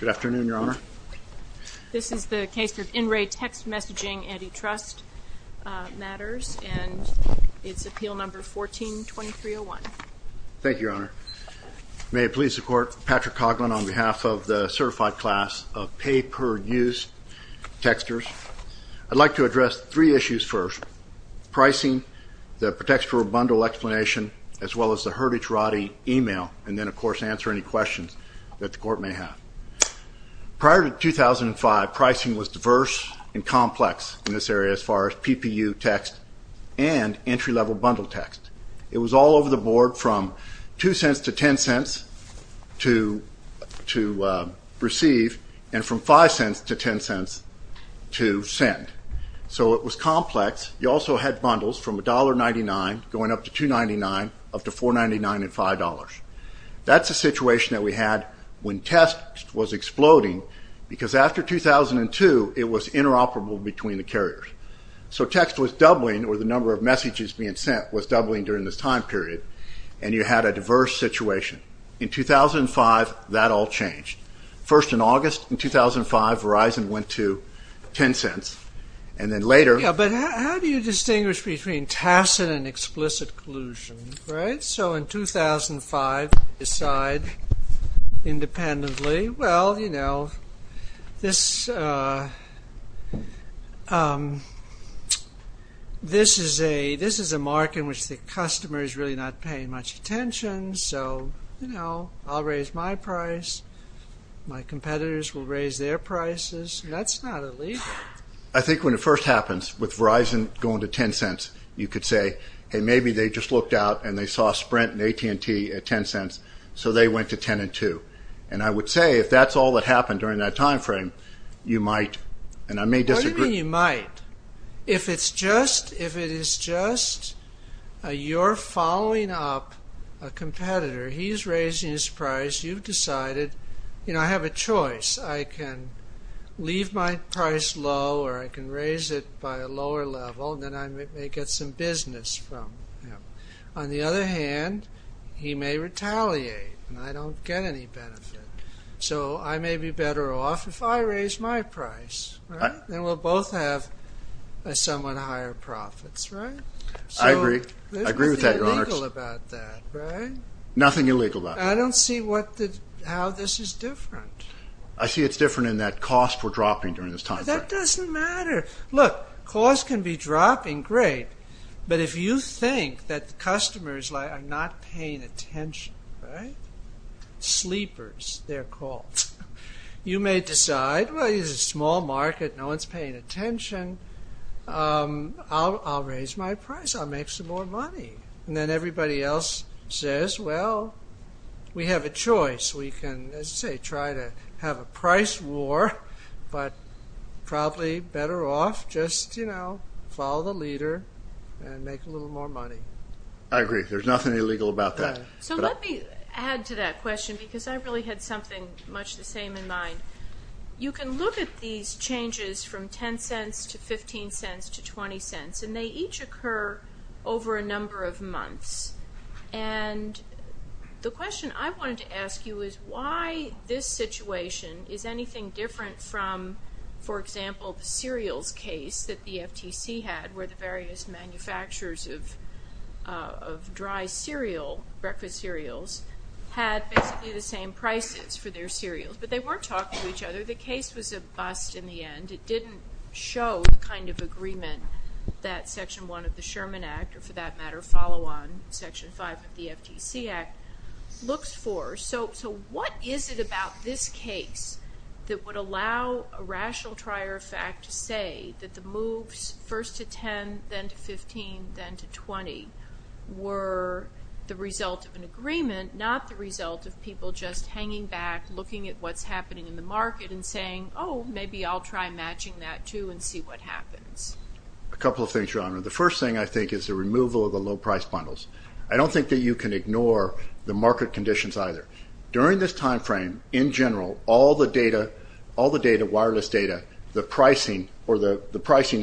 Good afternoon, Your Honor. This is the case of In-Ray Text Messaging Antitrust Matters and it's appeal number 14-2301. Thank you, Your Honor. May it please the Court, Patrick Coughlin on behalf of the certified class of pay-per-use texters. I'd like to address three issues first. Pricing, the protection for bundle explanation, as well as the herdage roddy email, and then of course answer any questions that the Court may have. Prior to 2005, pricing was diverse and complex in this area as far as PPU text and entry-level bundle text. It was all over the board from two cents to ten cents to to receive and from five cents to ten cents to send. So it was complex. You also had bundles from $1.99 going up to $2.99 up to $4.99 and $5. That's a situation that we had when text was exploding because after 2002 it was interoperable between the carriers. So text was doubling or the number of messages being sent was doubling during this time period and you had a diverse situation. In 2005 that all changed. First in August in 2005 Verizon went to ten cents and then later... But how do you conclusion, right? So in 2005 decide independently, well you know this this is a this is a mark in which the customer is really not paying much attention so you know I'll raise my price, my competitors will raise their prices. That's not illegal. I think when it happens with Verizon going to ten cents you could say hey maybe they just looked out and they saw Sprint and AT&T at ten cents so they went to ten and two and I would say if that's all that happened during that time frame you might and I may disagree. What do you mean you might? If it's just if it is just you're following up a competitor he's raising his price you've decided you know I have a choice I can leave my price low or I can raise it by a lower level and then I may get some business from him. On the other hand he may retaliate and I don't get any benefit so I may be better off if I raise my price and we'll both have a somewhat higher profits, right? I agree. I agree with that, Your Honor. There's nothing illegal about that, right? Nothing illegal about that. I don't see what the how this is different. I see it's different in that cost we're dropping during this time. That doesn't matter. Look, cost can be dropping, great, but if you think that the customers are not paying attention, right? Sleepers, they're called. You may decide well it's a small market, no one's paying attention. I'll raise my price. I'll make some more money. And then everybody else says well we have a choice. We can, as I say, try to have a price war but probably better off just, you know, follow the leader and make a little more money. I agree. There's nothing illegal about that. So let me add to that question because I really had something much the same in mind. You can look at these changes from 10 cents to 15 cents to 20 cents and they each occur over a number of months and the question I wanted to ask you is why this situation is anything different from, for example, the cereals case that the FTC had where the various manufacturers of dry cereal, breakfast cereals, had basically the same prices for their cereals. But they weren't talking to each other. The case was a bust in the end. It didn't show the kind of agreement that Section 1 of the Sherman Act, or for that matter, follow on Section 5 of the FTC Act, looks for. So what is it about this case that's that would allow a rational trier of fact to say that the moves, first to 10, then to 15, then to 20, were the result of an agreement, not the result of people just hanging back, looking at what's happening in the market and saying oh, maybe I'll try matching that too and see what happens? A couple of things, Your Honor. The first thing, I think, is the removal of the low price bundles. I don't think that you can ignore the market conditions either. During this time frame, in general, all the data, wireless data, the pricing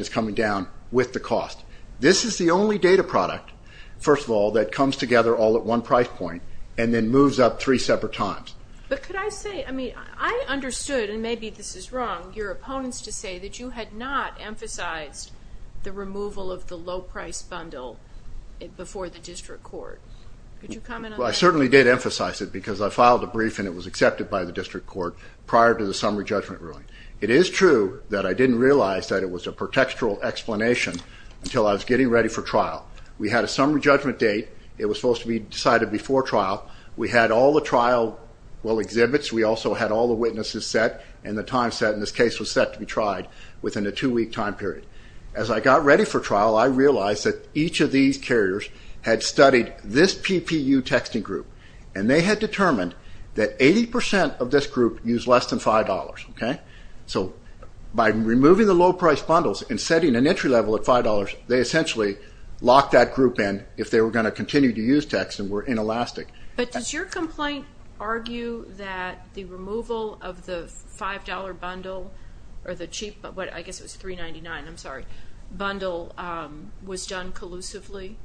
is coming down with the cost. This is the only data product, first of all, that comes together all at one price point and then moves up three separate times. But could I say, I mean, I understood, and maybe this is wrong, your opponents to say that you had not emphasized the removal of the low price bundle before the district court. Could you comment on that? I certainly did emphasize it because I filed a brief and it was accepted by the district court prior to the summary judgment ruling. It is true that I didn't realize that it was a pretextual explanation until I was getting ready for trial. We had a summary judgment date. It was supposed to be decided before trial. We had all the trial exhibits. We also had all the witnesses set and the time set in this case was set to be tried within a two-week time period. As I got ready for trial, I realized that each of these carriers had studied this PPU texting group and they had determined that 80% of this group used less than $5. So by removing the low price bundles and setting an entry level at $5, they essentially locked that group in if they were going to continue to use text and were inelastic. But does your complaint argue that the removal of the $5 bundle, or the cheap, I guess it was $3.99, I'm sorry, bundle was done collusively?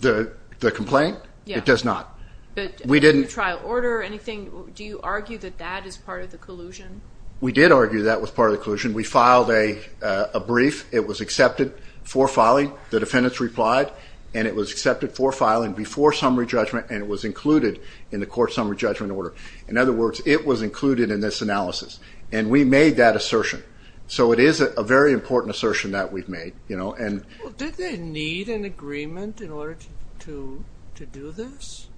The complaint? It does not. Do you trial order anything? Do you argue that that is part of the collusion? We did argue that was part of the collusion. We filed a brief. It was accepted for filing. The defendants replied and it was accepted for filing before summary judgment and it was included in the court summary judgment order. In other words, it was included in this analysis. And we made that assertion. So it is a very important assertion that we've made. Did they need an agreement in order to do this?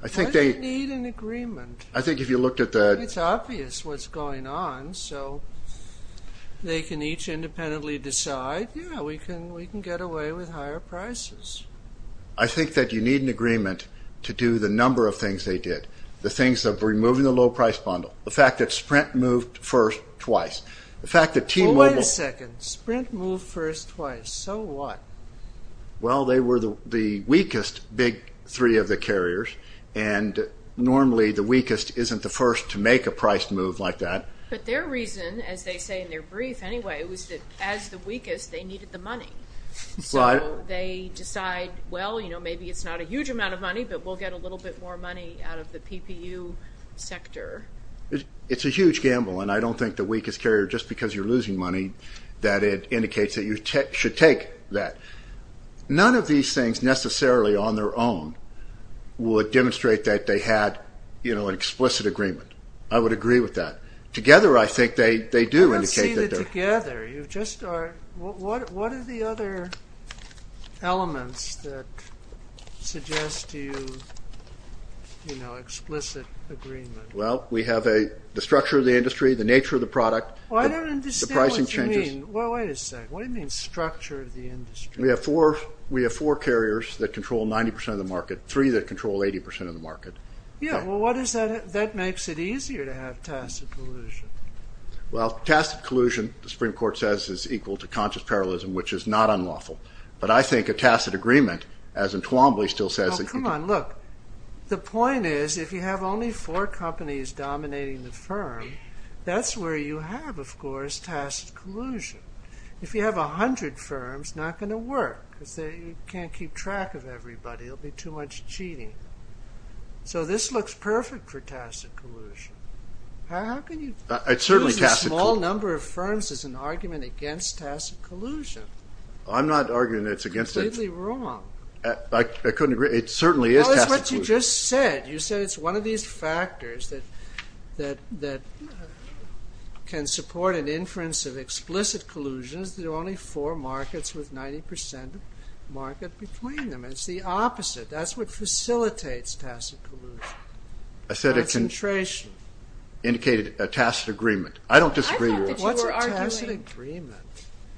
Why do they need an agreement? It's obvious what's going on. So they can each independently decide, yeah, we can get away with higher prices. I think that you need an agreement to do the number of things they did. The things of removing the low price bundle. The fact that Sprint moved first twice. Wait a second. Sprint moved first twice. So what? Well, they were the weakest big three of the carriers and normally the weakest isn't the first to make a price move like that. But their reason, as they say in their brief anyway, was that as the weakest, they needed the money. So they decide, well, you know, maybe it's not a huge amount of money, but we'll get a little bit more money out of the PPU sector. It's a huge gamble. And I don't think the weakest carrier, just because you're losing money, that it indicates that you should take that. None of these things necessarily on their own would demonstrate that they had an explicit agreement. I would agree with that. I don't see the together. What are the other elements that suggest to you, you know, explicit agreement? Well, we have the structure of the industry, the nature of the product. I don't understand what you mean. Wait a second. What do you mean structure of the industry? We have four carriers that control 90% of the market. Three that control 80% of the market. Yeah, well, what is that? That makes it easier to have tacit collusion. Well, tacit collusion, the Supreme Court says, is equal to conscious parallelism, which is not unlawful. But I think a tacit agreement, as in Twombly still says, Come on, look, the point is, if you have only four companies dominating the firm, that's where you have, of course, tacit collusion. If you have a hundred firms, it's not going to work, because you can't keep track of everybody. There'll be too much cheating. So this looks perfect for tacit collusion. How can you use a small number of firms as an argument against tacit collusion? I'm not arguing that it's against it. You're completely wrong. Well, it's what you just said. You said it's one of these factors that can support an inference of explicit collusion if there are only four markets with 90% of the market between them. It's the opposite. That's what facilitates tacit collusion. Concentration. I said it indicated a tacit agreement. I don't disagree with that. What's a tacit agreement?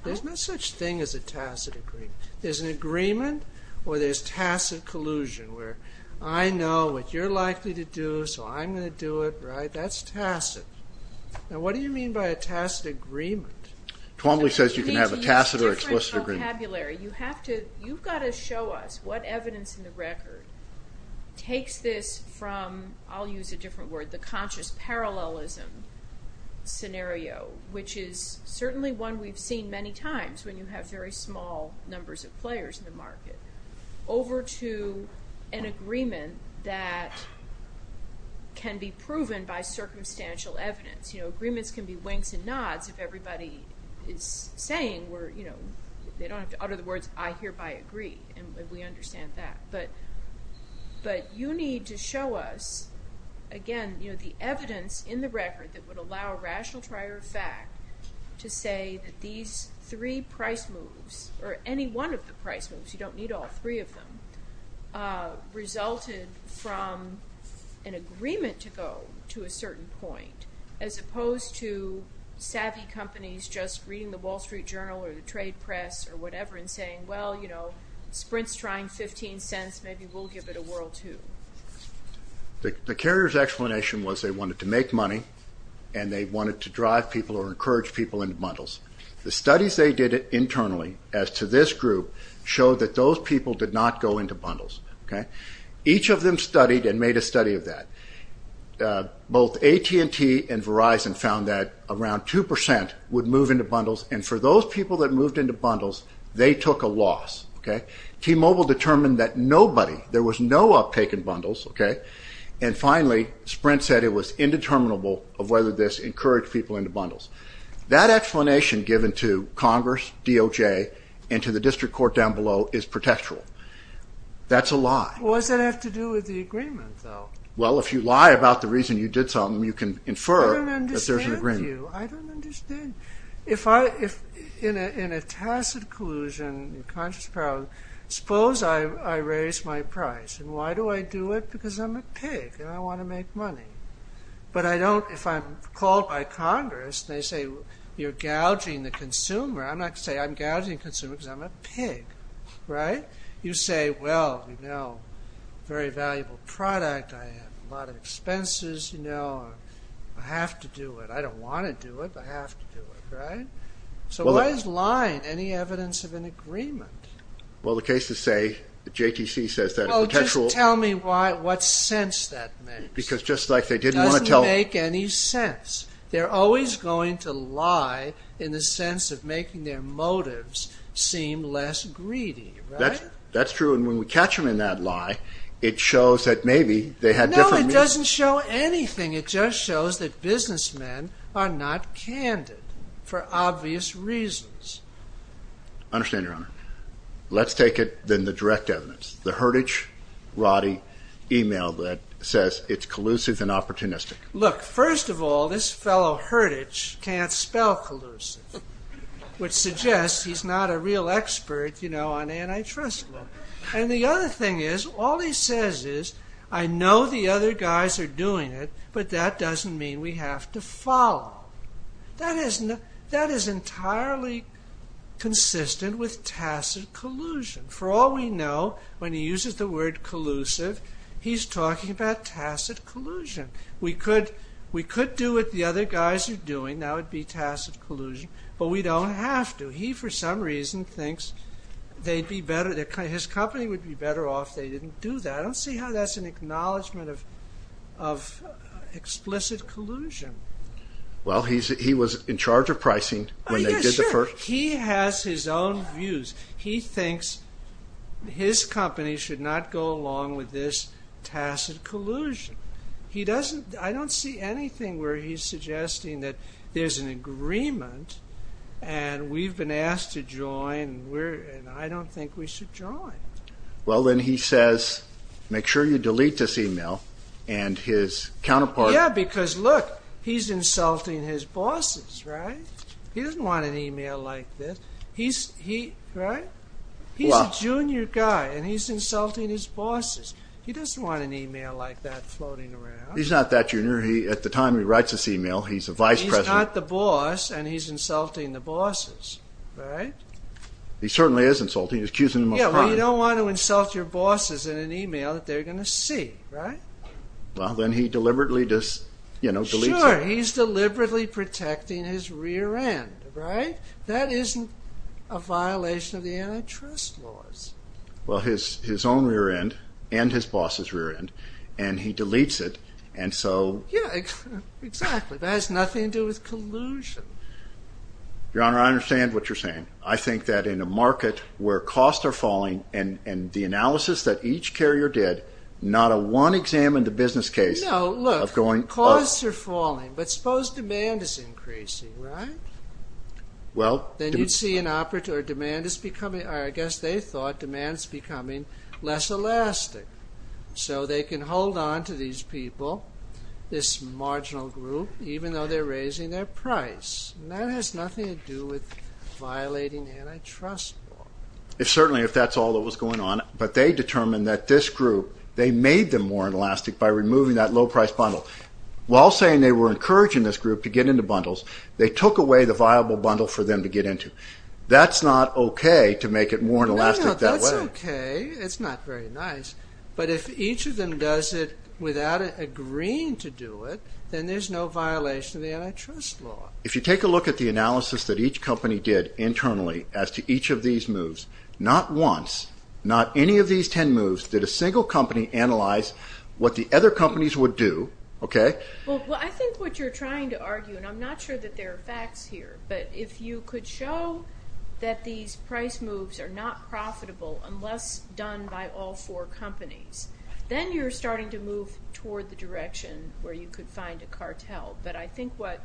There's no such thing as a tacit agreement. There's an agreement, or there's tacit collusion, where I know what you're likely to do, so I'm going to do it. That's tacit. Now, what do you mean by a tacit agreement? Twombly says you can have a tacit or explicit agreement. You have to show us what evidence in the record takes this from, I'll use a different word, the conscious parallelism scenario, which is certainly one we've seen many times when you have very small numbers of players in the market, over to an agreement that can be proven by circumstantial evidence. Agreements can be winks and nods if everybody is saying they don't have to utter the words, I hereby agree, and we understand that. But you need to show us, again, the evidence in the record that would allow a rational trier of fact to say that these three price moves, or any one of the price moves, you don't need all three of them, resulted from an agreement to go to a certain point, as opposed to savvy companies just reading the Wall Street Journal or the trade press or whatever and saying, well, Sprint's trying 15 cents, maybe we'll give it a whirl too. The carrier's explanation was they wanted to make money and they wanted to drive people or encourage people into bundles. The studies they did internally, as to this group, showed that those people did not go into bundles. Each of them studied and made a study of that. Both AT&T and Verizon found that around 2% would move into bundles, and for those people that moved into bundles, they took a loss. T-Mobile determined that nobody, there was no uptake in bundles. And finally, Sprint said it was indeterminable of whether this encouraged people into bundles. That explanation given to Congress, DOJ, and to the district court down below is pretextual. That's a lie. What does that have to do with the agreement, though? Well, if you lie about the reason you did something, you can infer that there's an agreement. I don't understand you. I don't understand you. In a tacit collusion, a conscious problem, suppose I raise my price. And why do I do it? Because I'm a pig and I want to make money. But if I'm called by Congress and they say, you're gouging the consumer, I'm not going to say I'm gouging the consumer because I'm a pig, right? You say, well, you know, very valuable product. I have a lot of expenses. I have to do it. I don't want to do it, but I have to do it, right? So why is lying any evidence of an agreement? Well, the case is, say, JTC says that a potential Well, just tell me what sense that makes. Because just like they didn't want to tell It doesn't make any sense. They're always going to lie in the sense of making their motives seem less greedy, right? That's true. And when we catch them in that lie, it shows that maybe they had different No, it doesn't show anything. It just shows that businessmen are not candid for obvious reasons. I understand, Your Honor. Let's take it, then, the direct evidence. The herdage, Roddy, e-mail that says it's collusive and opportunistic. Look, first of all, this fellow herdage can't spell collusive, which suggests he's not a real expert, you know, on antitrust law. And the other thing is, all he says is, I know the other guys are doing it, but that doesn't mean we have to follow. That is entirely consistent with tacit collusion. For all we know, when he uses the word collusive, he's talking about tacit collusion. We could do what the other guys are doing. That would be tacit collusion. But we don't have to. He, for some reason, thinks they'd be better His company would be better off if they didn't do that. I don't see how that's an acknowledgment of explicit collusion. Well, he was in charge of pricing when they did the first He has his own views. He thinks his company should not go along with this tacit collusion. I don't see anything where he's suggesting that there's an agreement and we've been asked to join and I don't think we should join. Well, then he says, make sure you delete this email. Yeah, because look, he's insulting his bosses, right? He doesn't want an email like this. He's a junior guy and he's insulting his bosses. He doesn't want an email like that floating around. He's not that junior. At the time he writes this email, he's a vice president. He's not the boss and he's insulting the bosses, right? He certainly is insulting. Well, you don't want to insult your bosses in an email that they're going to see, right? Well, then he deliberately just, you know, deletes it. Sure, he's deliberately protecting his rear end, right? That isn't a violation of the antitrust laws. Well, his own rear end and his boss's rear end and he deletes it and so Yeah, exactly. That has nothing to do with collusion. Your Honor, I understand what you're saying. I think that in a market where costs are falling and the analysis that each carrier did, not a one examined the business case of going No, look, costs are falling, but suppose demand is increasing, right? Well Then you'd see an operator, demand is becoming, I guess they thought demand is becoming less elastic. So they can hold on to these people, this marginal group, even though they're raising their price. That has nothing to do with violating antitrust law. Certainly, if that's all that was going on, but they determined that this group, they made them more inelastic by removing that low price bundle. While saying they were encouraging this group to get into bundles, they took away the viable bundle for them to get into. That's not okay to make it more inelastic that way. No, no, that's okay. It's not very nice. But if each of them does it without agreeing to do it, then there's no violation of the antitrust law. If you take a look at the analysis that each company did internally as to each of these moves, not once, not any of these ten moves, did a single company analyze what the other companies would do, okay? Well, I think what you're trying to argue, and I'm not sure that there are facts here, but if you could show that these price moves are not profitable unless done by all four companies, then you're starting to move toward the direction where you could find a cartel. But I think what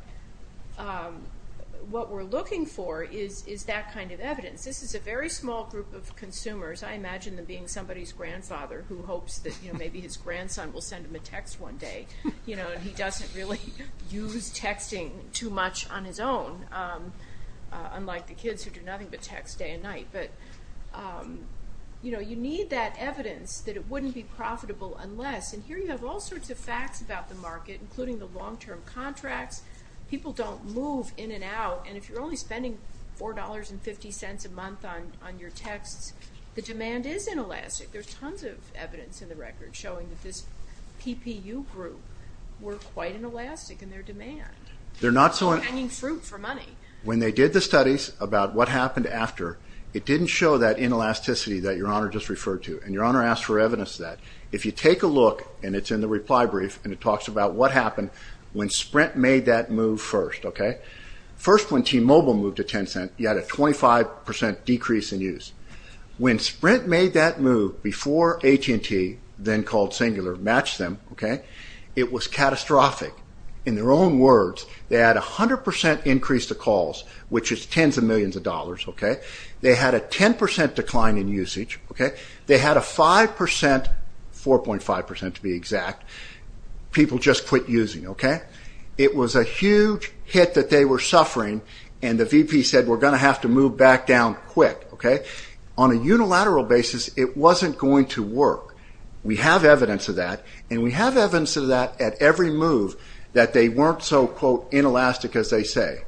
we're looking for is that kind of evidence. This is a very small group of consumers. I imagine them being somebody's grandfather who hopes that maybe his grandson will send him a text one day, and he doesn't really use texting too much on his own, unlike the kids who do nothing but text day and night. But you need that evidence that it wouldn't be profitable unless, and here you have all sorts of facts about the market, including the long-term contracts. People don't move in and out, and if you're only spending $4.50 a month on your texts, the demand is inelastic. There's tons of evidence in the record showing that this PPU group were quite inelastic in their demand. They're not selling fruit for money. When they did the studies about what happened after, it didn't show that inelasticity that Your Honor just referred to, and Your Honor asked for evidence of that. If you take a look, and it's in the reply brief, and it talks about what happened when Sprint made that move first. First when T-Mobile moved to Tencent, you had a 25% decrease in use. When Sprint made that move before AT&T, then called Singular, matched them, it was catastrophic. In their own words, they had a 100% increase to calls, which is tens of millions of dollars. They had a 10% decline in usage. They had a 5%, 4.5% to be exact, people just quit using. It was a huge hit that they were suffering, and the VP said we're going to have to move back down quick. On a unilateral basis, it wasn't going to work. We have evidence of that, and we have evidence of that at every move, that they weren't so, quote, inelastic as they say.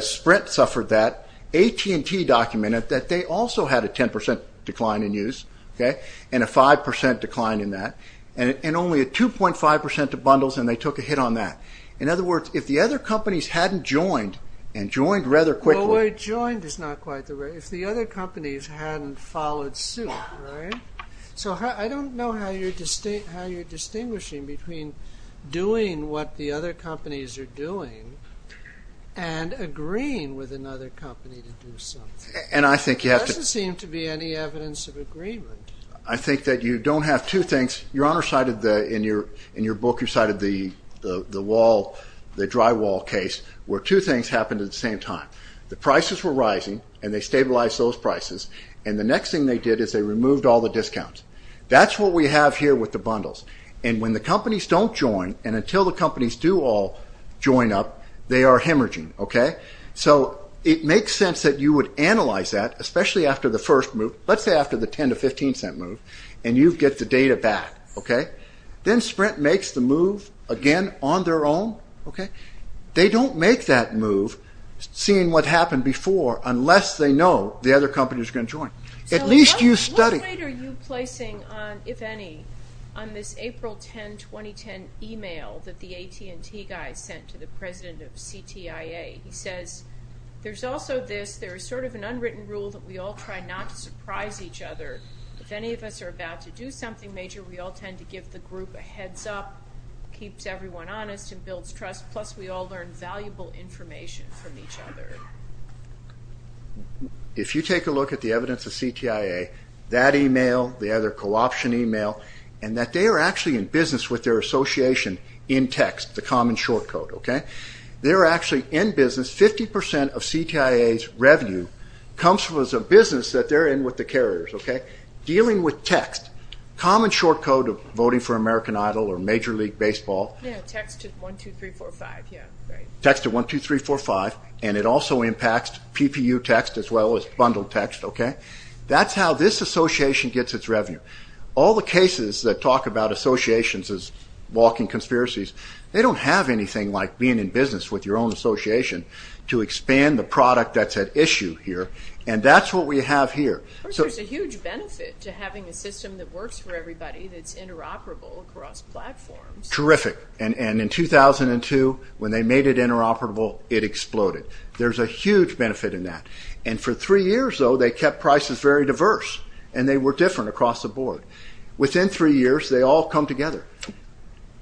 Sprint suffered that. AT&T documented that they also had a 10% decline in use, and a 5% decline in that. Only a 2.5% to bundles, and they took a hit on that. In other words, if the other companies hadn't joined, and joined rather quickly. Well, joined is not quite the right, if the other companies hadn't followed suit. I don't know how you're distinguishing between doing what the other companies are doing, and agreeing with another company to do something. And I think you have to. There doesn't seem to be any evidence of agreement. I think that you don't have two things. Your Honor cited in your book, you cited the drywall case, where two things happened at the same time. The prices were rising, and they stabilized those prices, and the next thing they did is they removed all the discounts. That's what we have here with the bundles. And when the companies don't join, and until the companies do all join up, they are hemorrhaging. So it makes sense that you would analyze that, especially after the first move. Let's say after the $0.10 to $0.15 move, and you get the data back. Then Sprint makes the move again on their own. They don't make that move, seeing what happened before, unless they know the other companies are going to join. So what weight are you placing, if any, on this April 10, 2010 email that the AT&T guy sent to the president of CTIA? He says, there's also this, there's sort of an unwritten rule that we all try not to surprise each other. If any of us are about to do something major, we all tend to give the group a heads up, keeps everyone honest, and builds trust, plus we all learn valuable information from each other. If you take a look at the evidence of CTIA, that email, the other co-option email, and that they are actually in business with their association in text, the common short code. They're actually in business, 50% of CTIA's revenue comes from a business that they're in with the carriers. Dealing with text, common short code of voting for American Idol or Major League Baseball. Yeah, text to 1-2-3-4-5. Text to 1-2-3-4-5, and it also impacts PPU text as well as bundled text. That's how this association gets its revenue. All the cases that talk about associations as walking conspiracies, they don't have anything like being in business with your own association to expand the product that's at issue here, and that's what we have here. There's a huge benefit to having a system that works for everybody, that's interoperable across platforms. Terrific, and in 2002, when they made it interoperable, it exploded. There's a huge benefit in that, and for three years, though, they kept prices very diverse, and they were different across the board. Within three years, they all come together.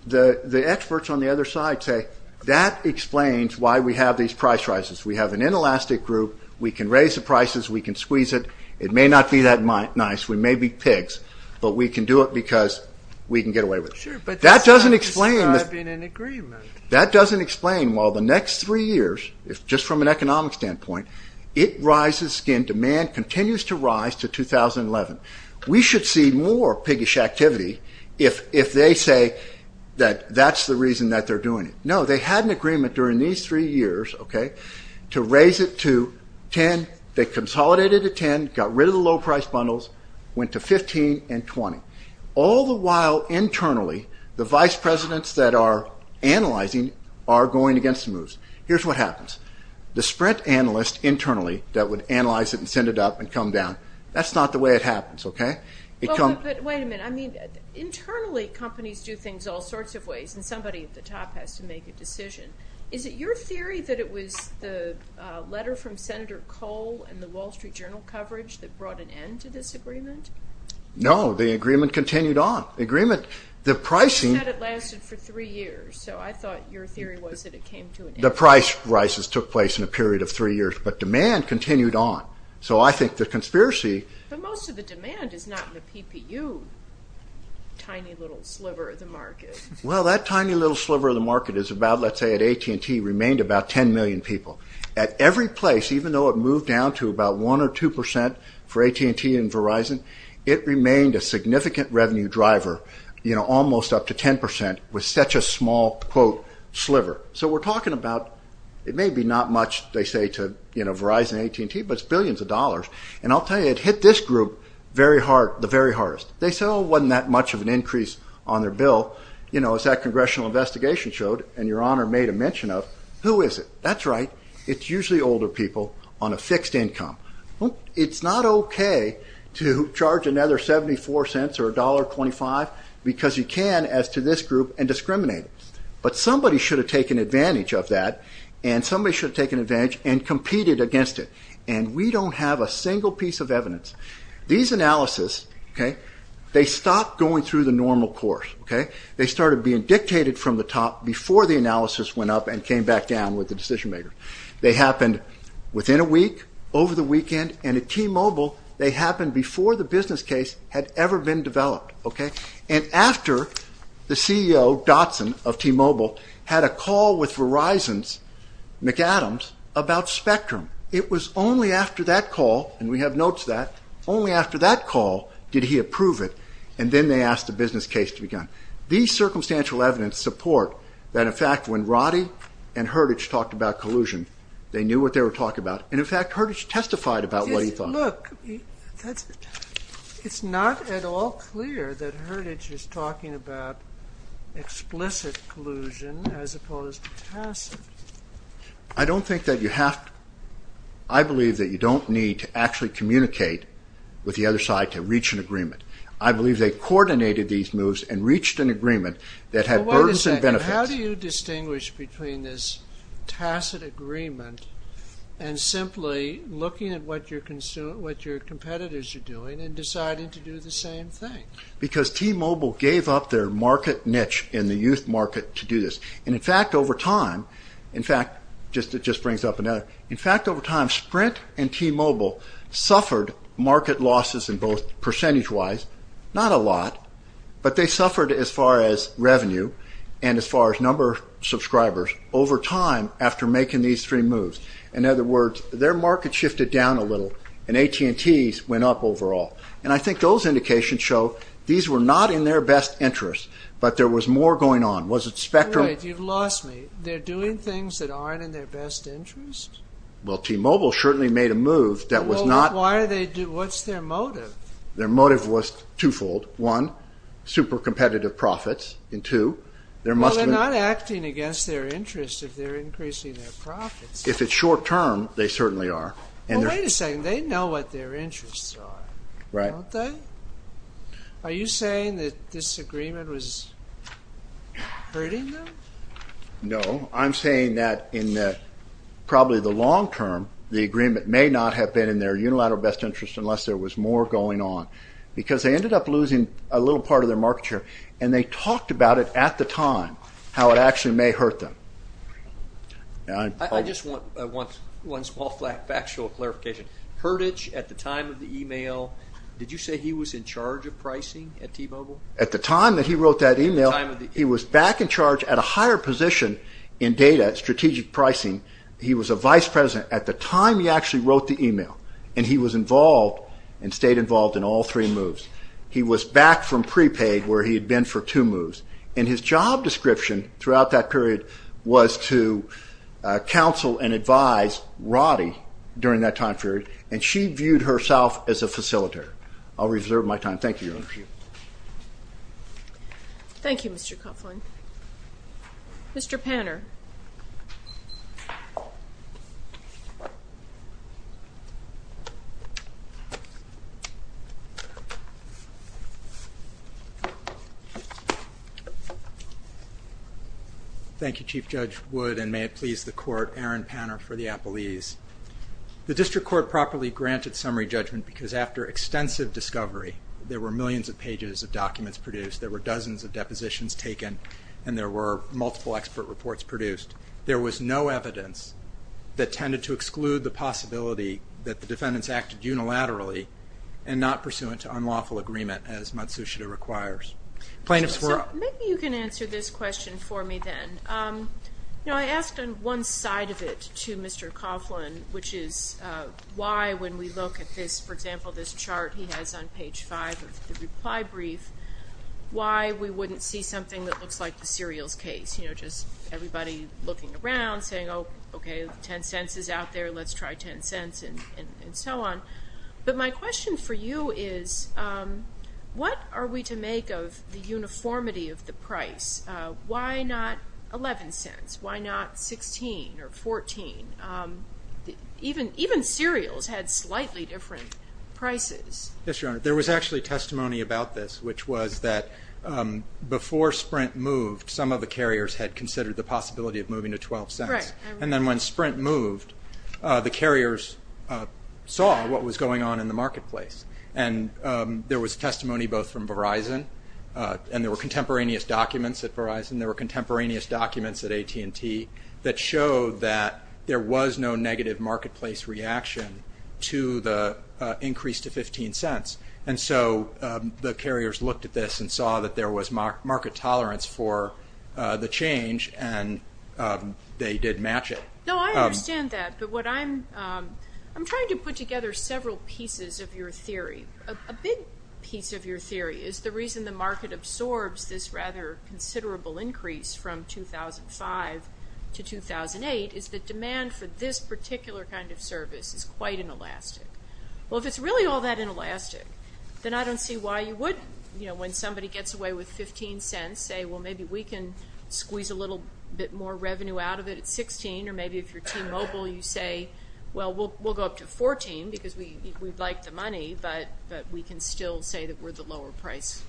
The experts on the other side say, that explains why we have these price rises. We have an inelastic group, we can raise the prices, we can squeeze it. It may not be that nice, we may be pigs, but we can do it because we can get away with it. Sure, but that's not describing an agreement. That doesn't explain why the next three years, just from an economic standpoint, it rises again, demand continues to rise to 2011. We should see more piggish activity if they say that that's the reason that they're doing it. No, they had an agreement during these three years to raise it to 10, they consolidated to 10, got rid of the low-priced bundles, went to 15 and 20. All the while, internally, the vice presidents that are analyzing are going against the moves. Here's what happens. The sprint analyst internally that would analyze it and send it up and come down, that's not the way it happens, okay? But wait a minute, I mean, internally, companies do things all sorts of ways, and somebody at the top has to make a decision. Is it your theory that it was the letter from Senator Kohl and the Wall Street Journal coverage that brought an end to this agreement? No, the agreement continued on. The agreement, the pricing... You said it lasted for three years, so I thought your theory was that it came to an end. The price crisis took place in a period of three years, but demand continued on. So I think the conspiracy... But most of the demand is not in the PPU, tiny little sliver of the market. Well, that tiny little sliver of the market is about, let's say at AT&T, remained about 10 million people. At every place, even though it moved down to about 1% or 2% for AT&T and Verizon, it remained a significant revenue driver, almost up to 10%, with such a small, quote, sliver. So we're talking about, it may be not much, they say, to Verizon and AT&T, but it's billions of dollars. And I'll tell you, it hit this group the very hardest. They said, oh, it wasn't that much of an increase on their bill. As that congressional investigation showed, and Your Honor made a mention of, who is it? That's right, it's usually older people on a fixed income. It's not okay to charge another 74 cents or $1.25, because you can, as to this group, and discriminate. But somebody should have taken advantage of that, and somebody should have taken advantage and competed against it. And we don't have a single piece of evidence. These analyses, they stopped going through the normal course. They started being dictated from the top before the analysis went up and came back down with the decision makers. They happened within a week, over the weekend, and at T-Mobile, they happened before the business case had ever been developed. And after the CEO, Dotson, of T-Mobile, had a call with Verizon's McAdams about Spectrum, it was only after that call, and we have notes of that, only after that call did he approve it, and then they asked the business case to be done. These circumstantial evidence support that, in fact, when Roddy and Herditch talked about collusion, they knew what they were talking about. And, in fact, Herditch testified about what he thought. Look, it's not at all clear that Herditch is talking about explicit collusion as opposed to tacit. I don't think that you have to. I believe that you don't need to actually communicate with the other side to reach an agreement. I believe they coordinated these moves and reached an agreement that had burdensome benefits. Well, wait a second. How do you distinguish between this tacit agreement and simply looking at what your competitors are doing and deciding to do the same thing? Because T-Mobile gave up their market niche in the youth market to do this. And, in fact, over time, in fact, it just brings up another, in fact, over time, Sprint and T-Mobile suffered market losses in both percentage-wise, not a lot, but they suffered as far as revenue and as far as number of subscribers over time after making these three moves. In other words, their market shifted down a little, and AT&T's went up overall. And I think those indications show these were not in their best interest, but there was more going on. Was it Spectrum? You're right. You've lost me. They're doing things that aren't in their best interest? Well, T-Mobile certainly made a move that was not... Well, why are they... what's their motive? Their motive was twofold. One, super competitive profits. And two, there must have been... Well, they're not acting against their interests if they're increasing their profits. If it's short-term, they certainly are. Well, wait a second. They know what their interests are. Right. Don't they? Are you saying that this agreement was hurting them? No. I'm saying that in probably the long term, the agreement may not have been in their unilateral best interest unless there was more going on. Because they ended up losing a little part of their market share. And they talked about it at the time, how it actually may hurt them. I just want one small factual clarification. Heritage, at the time of the email, did you say he was in charge of pricing at T-Mobile? At the time that he wrote that email, he was back in charge at a higher position in data, strategic pricing. He was a vice president at the time he actually wrote the email. And he was involved and stayed involved in all three moves. He was back from prepaid where he had been for two moves. And his job description throughout that period was to counsel and advise Roddy during that time period. And she viewed herself as a facilitator. I'll reserve my time. Thank you, Your Honor. Thank you, Mr. Coughlin. Mr. Panner. Thank you, Chief Judge Wood. And may it please the Court, Aaron Panner for the appellees. The district court properly granted summary judgment because after extensive discovery, there were millions of pages of documents produced, there were dozens of depositions taken, and there were multiple expert reports produced. There was no evidence that tended to exclude the possibility that the defendants acted unilaterally and not pursuant to unlawful agreement as Matsushita requires. So maybe you can answer this question for me then. You know, I asked on one side of it to Mr. Coughlin, which is why, when we look at this, for example, this chart he has on page five of the reply brief, why we wouldn't see something that looks like the serials case, you know, just everybody looking around saying, oh, okay, 10 cents is out there, let's try 10 cents, and so on. But my question for you is what are we to make of the uniformity of the price? Why not 11 cents? Why not 16 or 14? Even serials had slightly different prices. Yes, Your Honor. There was actually testimony about this, which was that before Sprint moved, some of the carriers had considered the possibility of moving to 12 cents. Correct. And then when Sprint moved, the carriers saw what was going on in the marketplace. And there was testimony both from Verizon, and there were contemporaneous documents at Verizon, there were contemporaneous documents at AT&T that showed that there was no negative marketplace reaction to the increase to 15 cents. And so the carriers looked at this and saw that there was market tolerance for the change, and they did match it. No, I understand that. But what I'm trying to put together several pieces of your theory. A big piece of your theory is the reason the market absorbs this rather considerable increase from 2005 to 2008 is that demand for this particular kind of service is quite inelastic. Well, if it's really all that inelastic, then I don't see why you would, you know, when somebody gets away with 15 cents, say, well, maybe we can squeeze a little bit more revenue out of it at 16. Or maybe if you're T-Mobile, you say, well, we'll go up to 14 because we'd like the money, but we can still say that we're the lower price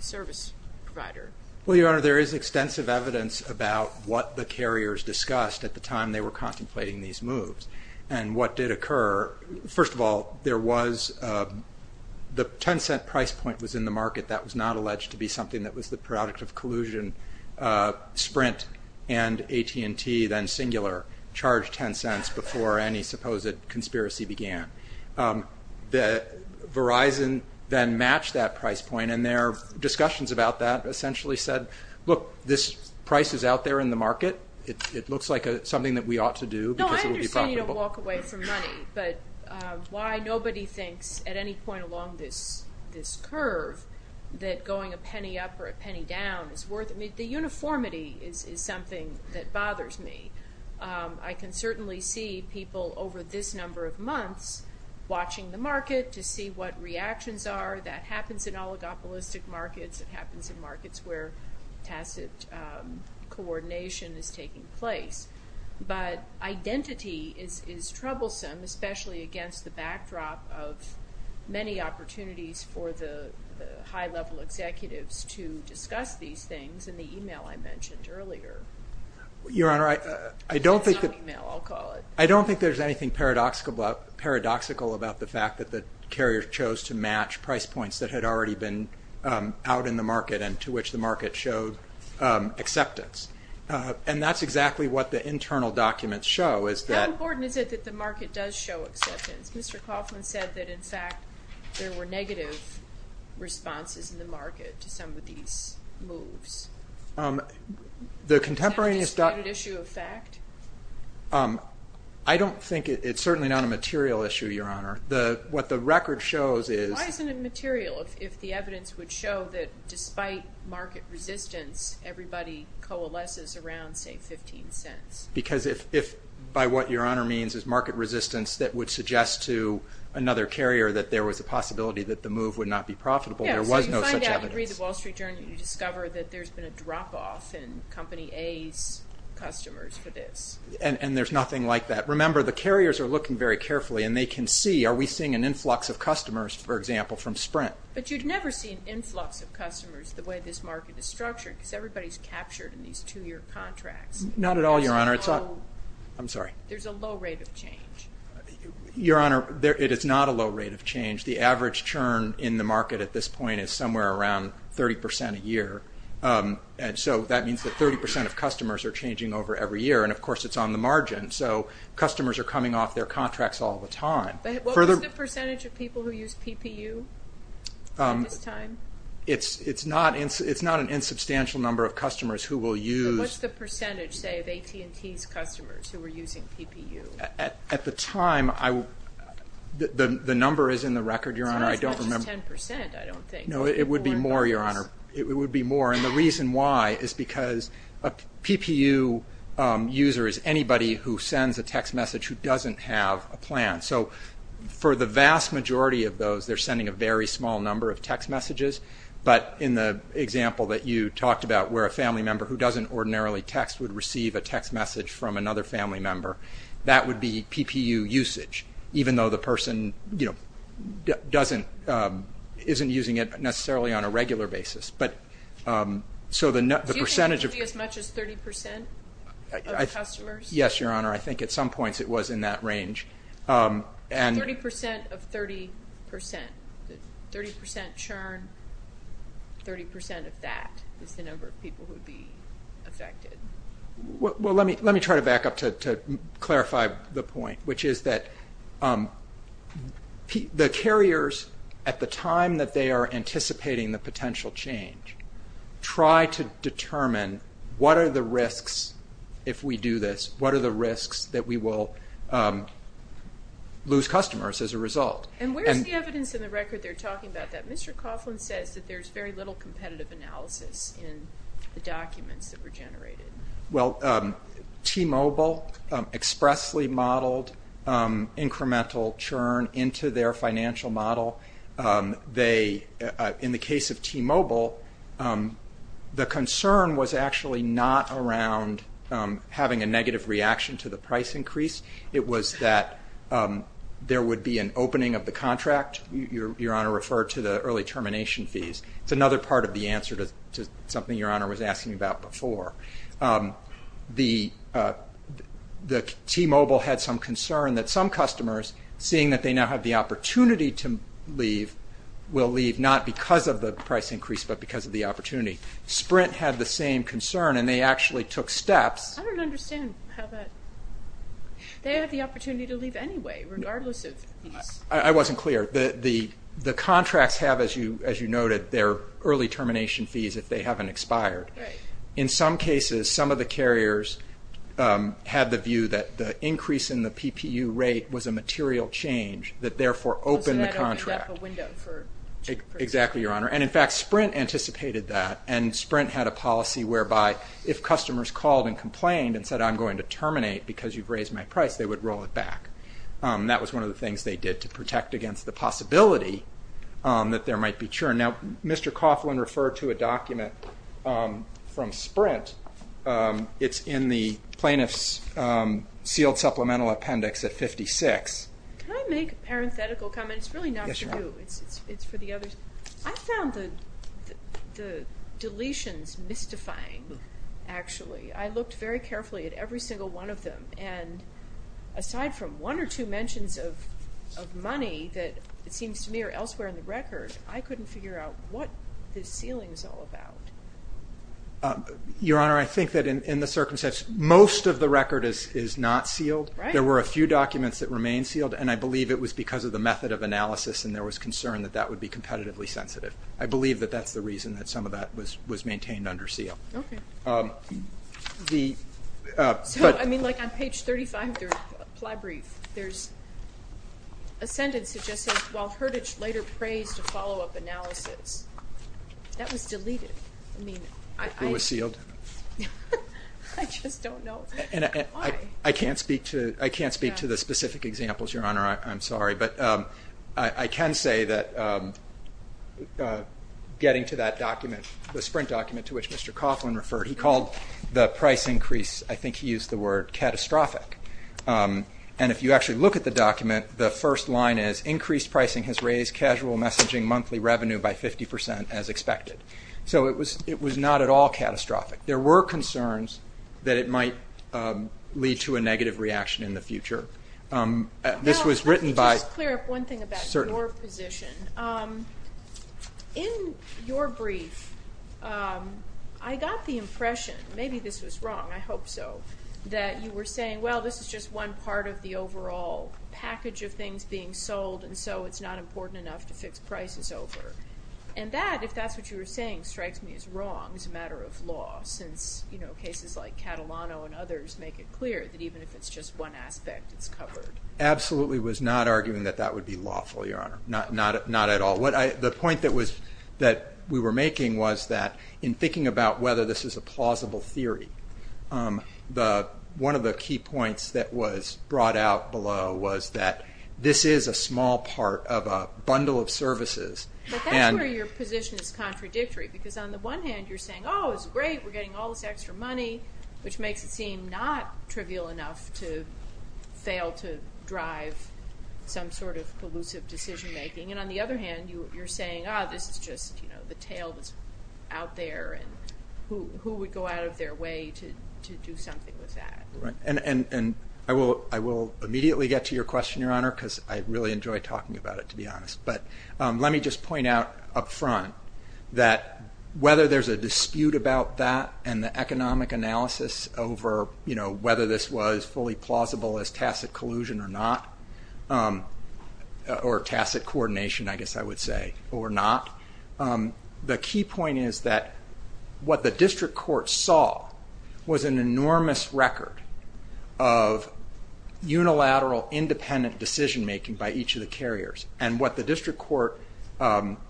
service provider. Well, Your Honor, there is extensive evidence about what the carriers discussed at the time they were contemplating these moves and what did occur. First of all, the 10-cent price point was in the market. That was not alleged to be something that was the product of collusion. Sprint and AT&T, then Singular, charged 10 cents before any supposed conspiracy began. Verizon then matched that price point, and their discussions about that essentially said, look, this price is out there in the market. It looks like something that we ought to do because it would be profitable. But why nobody thinks at any point along this curve that going a penny up or a penny down is worth it. I mean, the uniformity is something that bothers me. I can certainly see people over this number of months watching the market to see what reactions are. That happens in oligopolistic markets. It happens in markets where tacit coordination is taking place. But identity is troublesome, especially against the backdrop of many opportunities for the high-level executives to discuss these things in the email I mentioned earlier. Your Honor, I don't think there's anything paradoxical about the fact that the carriers chose to match price points that had already been out in the market and to which the market showed acceptance. And that's exactly what the internal documents show. How important is it that the market does show acceptance? Mr. Coughlin said that, in fact, there were negative responses in the market to some of these moves. Is that a disputed issue of fact? I don't think it's certainly not a material issue, Your Honor. What the record shows is- Because by what Your Honor means is market resistance that would suggest to another carrier that there was a possibility that the move would not be profitable. There was no such evidence. And there's nothing like that. Remember, the carriers are looking very carefully and they can see, are we seeing an influx of customers, for example, from Sprint? But you'd never see an influx of customers the way this market is structured because everybody's captured in these two-year contracts. Not at all, Your Honor. There's a low rate of change. Your Honor, it is not a low rate of change. The average churn in the market at this point is somewhere around 30% a year. So that means that 30% of customers are changing over every year, and of course it's on the margin. So customers are coming off their contracts all the time. What was the percentage of people who used PPU at this time? It's not an insubstantial number of customers who will use- What's the percentage, say, of AT&T's customers who were using PPU? At the time, the number is in the record, Your Honor. It's not as much as 10%, I don't think. No, it would be more, Your Honor. It would be more, and the reason why is because a PPU user is anybody who sends a text message who doesn't have a plan. So for the vast majority of those, they're sending a very small number of text messages, but in the example that you talked about where a family member who doesn't ordinarily text would receive a text message from another family member, that would be PPU usage, even though the person isn't using it necessarily on a regular basis. Do you think it would be as much as 30% of customers? Yes, Your Honor, I think at some points it was in that range. 30% of 30%? 30% churn, 30% of that is the number of people who would be affected. Well, let me try to back up to clarify the point, which is that the carriers, at the time that they are anticipating the potential change, try to determine what are the risks if we do this, what are the risks that we will lose customers as a result. And where's the evidence in the record they're talking about that? Mr. Coughlin says that there's very little competitive analysis in the documents that were generated. Well, T-Mobile expressly modeled incremental churn into their financial model. In the case of T-Mobile, the concern was actually not around having a negative reaction to the price increase. It was that there would be an opening of the contract. Your Honor referred to the early termination fees. It's another part of the answer to something Your Honor was asking about before. T-Mobile had some concern that some customers, seeing that they now have the opportunity to leave, will leave not because of the price increase but because of the opportunity. Sprint had the same concern, and they actually took steps. I don't understand how that, they have the opportunity to leave anyway, regardless of. I wasn't clear. The contracts have, as you noted, their early termination fees if they haven't expired. In some cases, some of the carriers had the view that the increase in the PPU rate was a material change that therefore opened the contract. So that opened up a window for- Exactly, Your Honor. And in fact, Sprint anticipated that, and Sprint had a policy whereby if customers called and complained and said, I'm going to terminate because you've raised my price, they would roll it back. That was one of the things they did to protect against the possibility that there might be churn. Now, Mr. Coughlin referred to a document from Sprint. It's in the Plaintiff's Sealed Supplemental Appendix at 56. Can I make a parenthetical comment? It's really not for you. Yes, Your Honor. It's for the others. I found the deletions mystifying, actually. I looked very carefully at every single one of them, and aside from one or two mentions of money that it seems to me are elsewhere in the record, I couldn't figure out what this sealing is all about. Your Honor, I think that in the circumstances, most of the record is not sealed. Right. There were a few documents that remained sealed, and I believe it was because of the method of analysis and there was concern that that would be competitively sensitive. I believe that that's the reason that some of that was maintained under seal. Okay. The- So, I mean, like on page 35 of the ply brief, there's a sentence that just says, while Heritage later praised a follow-up analysis. That was deleted. I mean, I- It was sealed. I just don't know why. I can't speak to the specific examples, Your Honor. I'm sorry. But I can say that getting to that document, the sprint document to which Mr. Coughlin referred, he called the price increase, I think he used the word, catastrophic. And if you actually look at the document, the first line is, increased pricing has raised casual messaging monthly revenue by 50% as expected. So it was not at all catastrophic. There were concerns that it might lead to a negative reaction in the future. This was written by- Now, let me just clear up one thing about your position. Certainly. In your brief, I got the impression, maybe this was wrong, I hope so, that you were saying, well, this is just one part of the overall package of things being sold, and so it's not important enough to fix prices over. And that, if that's what you were saying, strikes me as wrong as a matter of law, since cases like Catalano and others make it clear that even if it's just one aspect, it's covered. Absolutely was not arguing that that would be lawful, Your Honor. Not at all. The point that we were making was that in thinking about whether this is a plausible theory, one of the key points that was brought out below was that this is a small part of a bundle of services. But that's where your position is contradictory, because on the one hand, you're saying, oh, this is great, we're getting all this extra money, which makes it seem not trivial enough to fail to drive some sort of collusive decision making. And on the other hand, you're saying, ah, this is just, you know, the tail that's out there, and who would go out of their way to do something with that. And I will immediately get to your question, Your Honor, because I really enjoy talking about it, to be honest. But let me just point out up front that whether there's a dispute about that and the economic analysis over, you know, whether this was fully plausible as tacit collusion or not, or tacit coordination, I guess I would say, or not, the key point is that what the district court saw was an enormous record of unilateral, independent decision making by each of the carriers. And what the district court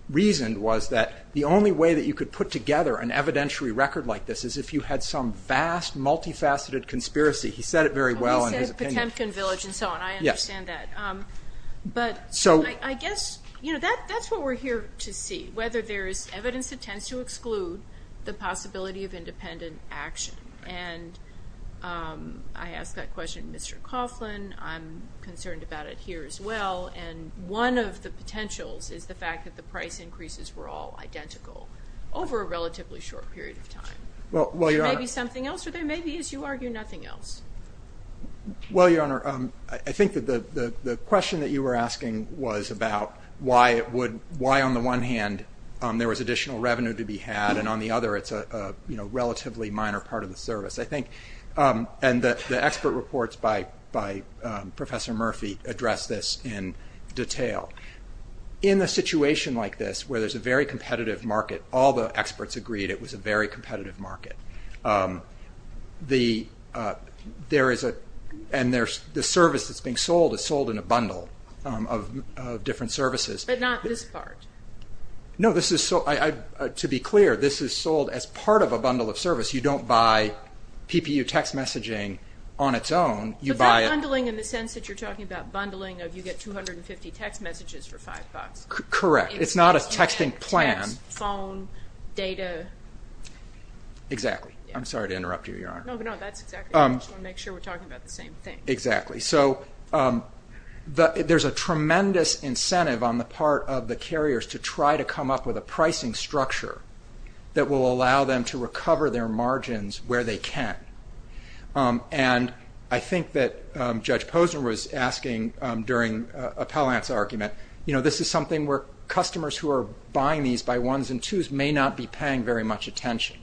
reasoned was that the only way that you could put together an evidentiary record like this is if you had some vast, multifaceted conspiracy. He said it very well in his opinion. Temkin Village and so on, I understand that. But I guess, you know, that's what we're here to see, whether there is evidence that tends to exclude the possibility of independent action. And I asked that question to Mr. Coughlin. I'm concerned about it here as well. And one of the potentials is the fact that the price increases were all identical over a relatively short period of time. Well, Your Honor. There may be something else, or there may be, as you argue, nothing else. Well, Your Honor, I think that the question that you were asking was about why it would, why on the one hand there was additional revenue to be had, and on the other it's a relatively minor part of the service. I think, and the expert reports by Professor Murphy address this in detail. In a situation like this where there's a very competitive market, all the experts agreed it was a very competitive market. There is a, and the service that's being sold is sold in a bundle of different services. But not this part. No, this is, to be clear, this is sold as part of a bundle of service. You don't buy PPU text messaging on its own. You buy it. But that bundling in the sense that you're talking about bundling, you get 250 text messages for five bucks. Correct. It's not a texting plan. Text, phone, data. Exactly. I'm sorry to interrupt you, Your Honor. No, no, that's exactly right. I just want to make sure we're talking about the same thing. Exactly. So there's a tremendous incentive on the part of the carriers to try to come up with a pricing structure that will allow them to recover their margins where they can. And I think that Judge Posner was asking during Appellant's argument, you know, this is something where customers who are buying these by ones and twos may not be paying very much attention.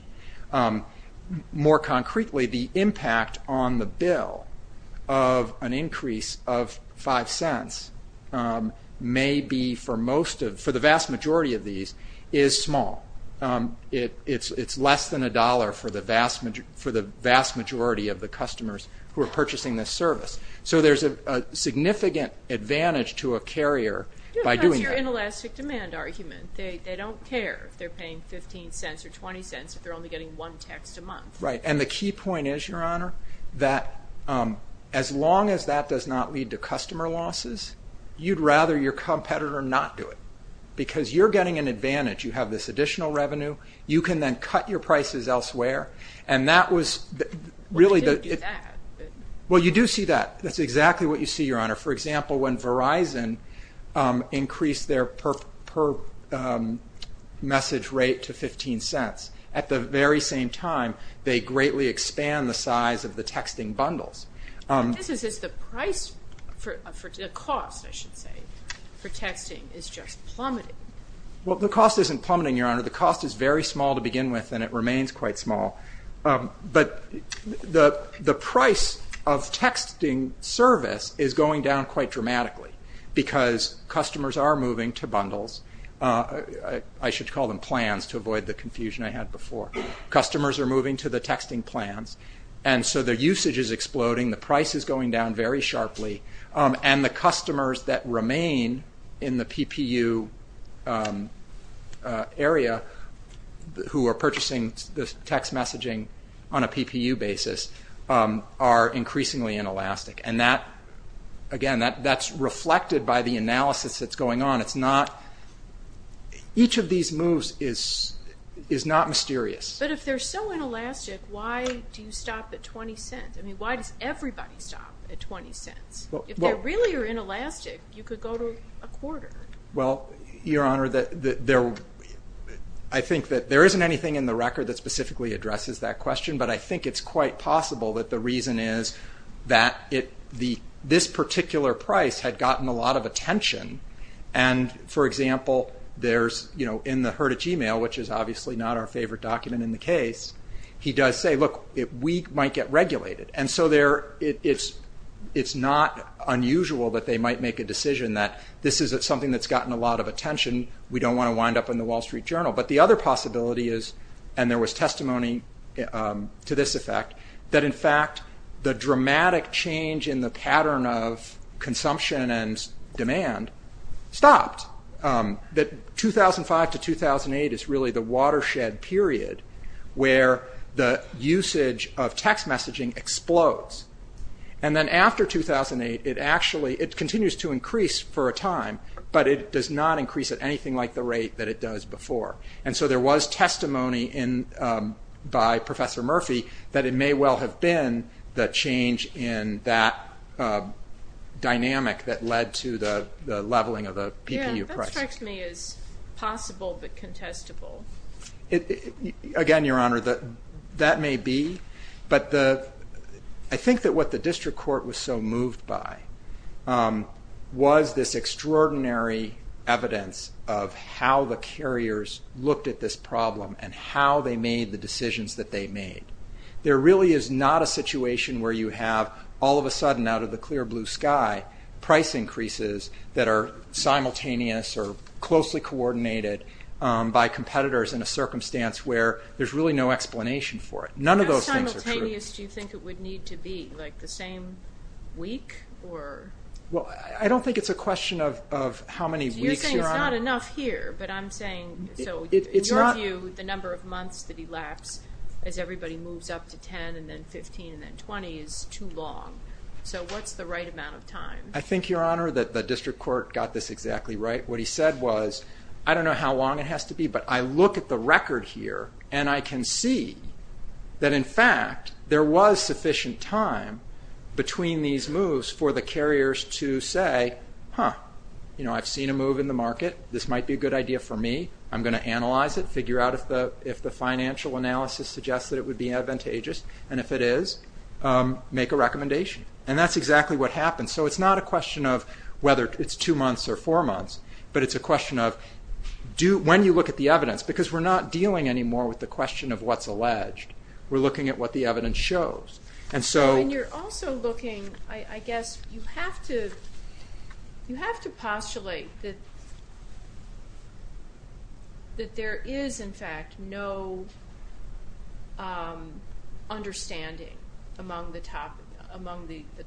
More concretely, the impact on the bill of an increase of five cents may be for most of, for the vast majority of these, is small. It's less than a dollar for the vast majority of the customers who are purchasing this service. So there's a significant advantage to a carrier by doing that. Because of your inelastic demand argument. They don't care if they're paying 15 cents or 20 cents if they're only getting one text a month. Right. And the key point is, Your Honor, that as long as that does not lead to customer losses, you'd rather your competitor not do it. Because you're getting an advantage. You have this additional revenue. You can then cut your prices elsewhere. And that was really the... We didn't do that. Well, you do see that. That's exactly what you see, Your Honor. For example, when Verizon increased their per message rate to 15 cents, at the very same time they greatly expand the size of the texting bundles. This is just the price for, the cost, I should say, for texting is just plummeting. Well, the cost isn't plummeting, Your Honor. The cost is very small to begin with, and it remains quite small. But the price of texting service is going down quite dramatically because customers are moving to bundles. I should call them plans to avoid the confusion I had before. Customers are moving to the texting plans. And so their usage is exploding. The price is going down very sharply. And the customers that remain in the PPU area who are purchasing the text messaging on a PPU basis are increasingly inelastic. And that, again, that's reflected by the analysis that's going on. It's not... Each of these moves is not mysterious. But if they're so inelastic, why do you stop at 20 cents? I mean, why does everybody stop at 20 cents? If they really are inelastic, you could go to a quarter. Well, Your Honor, I think that there isn't anything in the record that specifically addresses that question. But I think it's quite possible that the reason is that this particular price had gotten a lot of attention. And, for example, there's in the Heritage email, which is obviously not our favorite document in the case, he does say, look, we might get regulated. And so it's not unusual that they might make a decision that this is something that's gotten a lot of attention. We don't want to wind up in the Wall Street Journal. But the other possibility is, and there was testimony to this effect, that, in fact, the dramatic change in the pattern of consumption and demand stopped. That 2005 to 2008 is really the watershed period where the usage of text messaging explodes. And then after 2008, it continues to increase for a time, but it does not increase at anything like the rate that it does before. And so there was testimony by Professor Murphy that it may well have been the change in that dynamic that led to the leveling of the PPU price. That strikes me as possible but contestable. Again, Your Honor, that may be. But I think that what the district court was so moved by was this extraordinary evidence of how the carriers looked at this problem and how they made the decisions that they made. There really is not a situation where you have, all of a sudden out of the clear blue sky, price increases that are simultaneous or closely coordinated by competitors in a circumstance where there's really no explanation for it. None of those things are true. How simultaneous do you think it would need to be? Like the same week? Well, I don't think it's a question of how many weeks, Your Honor. You're saying it's not enough here, but I'm saying, so in your view, the number of months that elapse as everybody moves up to 10 and then 15 and then 20 is too long. So what's the right amount of time? I think, Your Honor, that the district court got this exactly right. What he said was, I don't know how long it has to be, but I look at the record here and I can see that, in fact, there was sufficient time between these moves for the carriers to say, huh, I've seen a move in the market. This might be a good idea for me. I'm going to analyze it, figure out if the financial analysis suggests that it would be advantageous. And if it is, make a recommendation. And that's exactly what happened. So it's not a question of whether it's two months or four months, but it's a question of when you look at the evidence, because we're not dealing anymore with the question of what's alleged. We're looking at what the evidence shows. And you're also looking, I guess, you have to postulate that there is, in fact, no understanding among the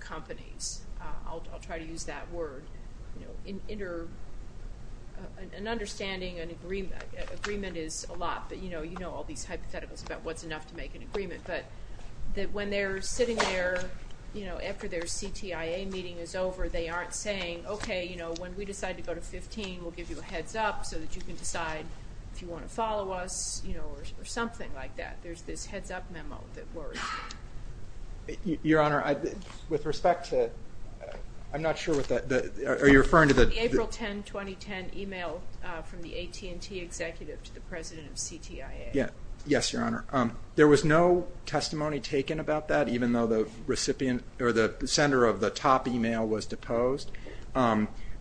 companies. I'll try to use that word. An understanding, an agreement is a lot, but you know all these hypotheticals about what's enough to make an agreement. But when they're sitting there after their CTIA meeting is over, they aren't saying, okay, you know, when we decide to go to 15, we'll give you a heads-up so that you can decide if you want to follow us, you know, or something like that. There's this heads-up memo that works. Your Honor, with respect to the April 10, 2010, email from the AT&T executive to the president of CTIA. Yes, Your Honor. There was no testimony taken about that, even though the recipient or the sender of the top email was deposed.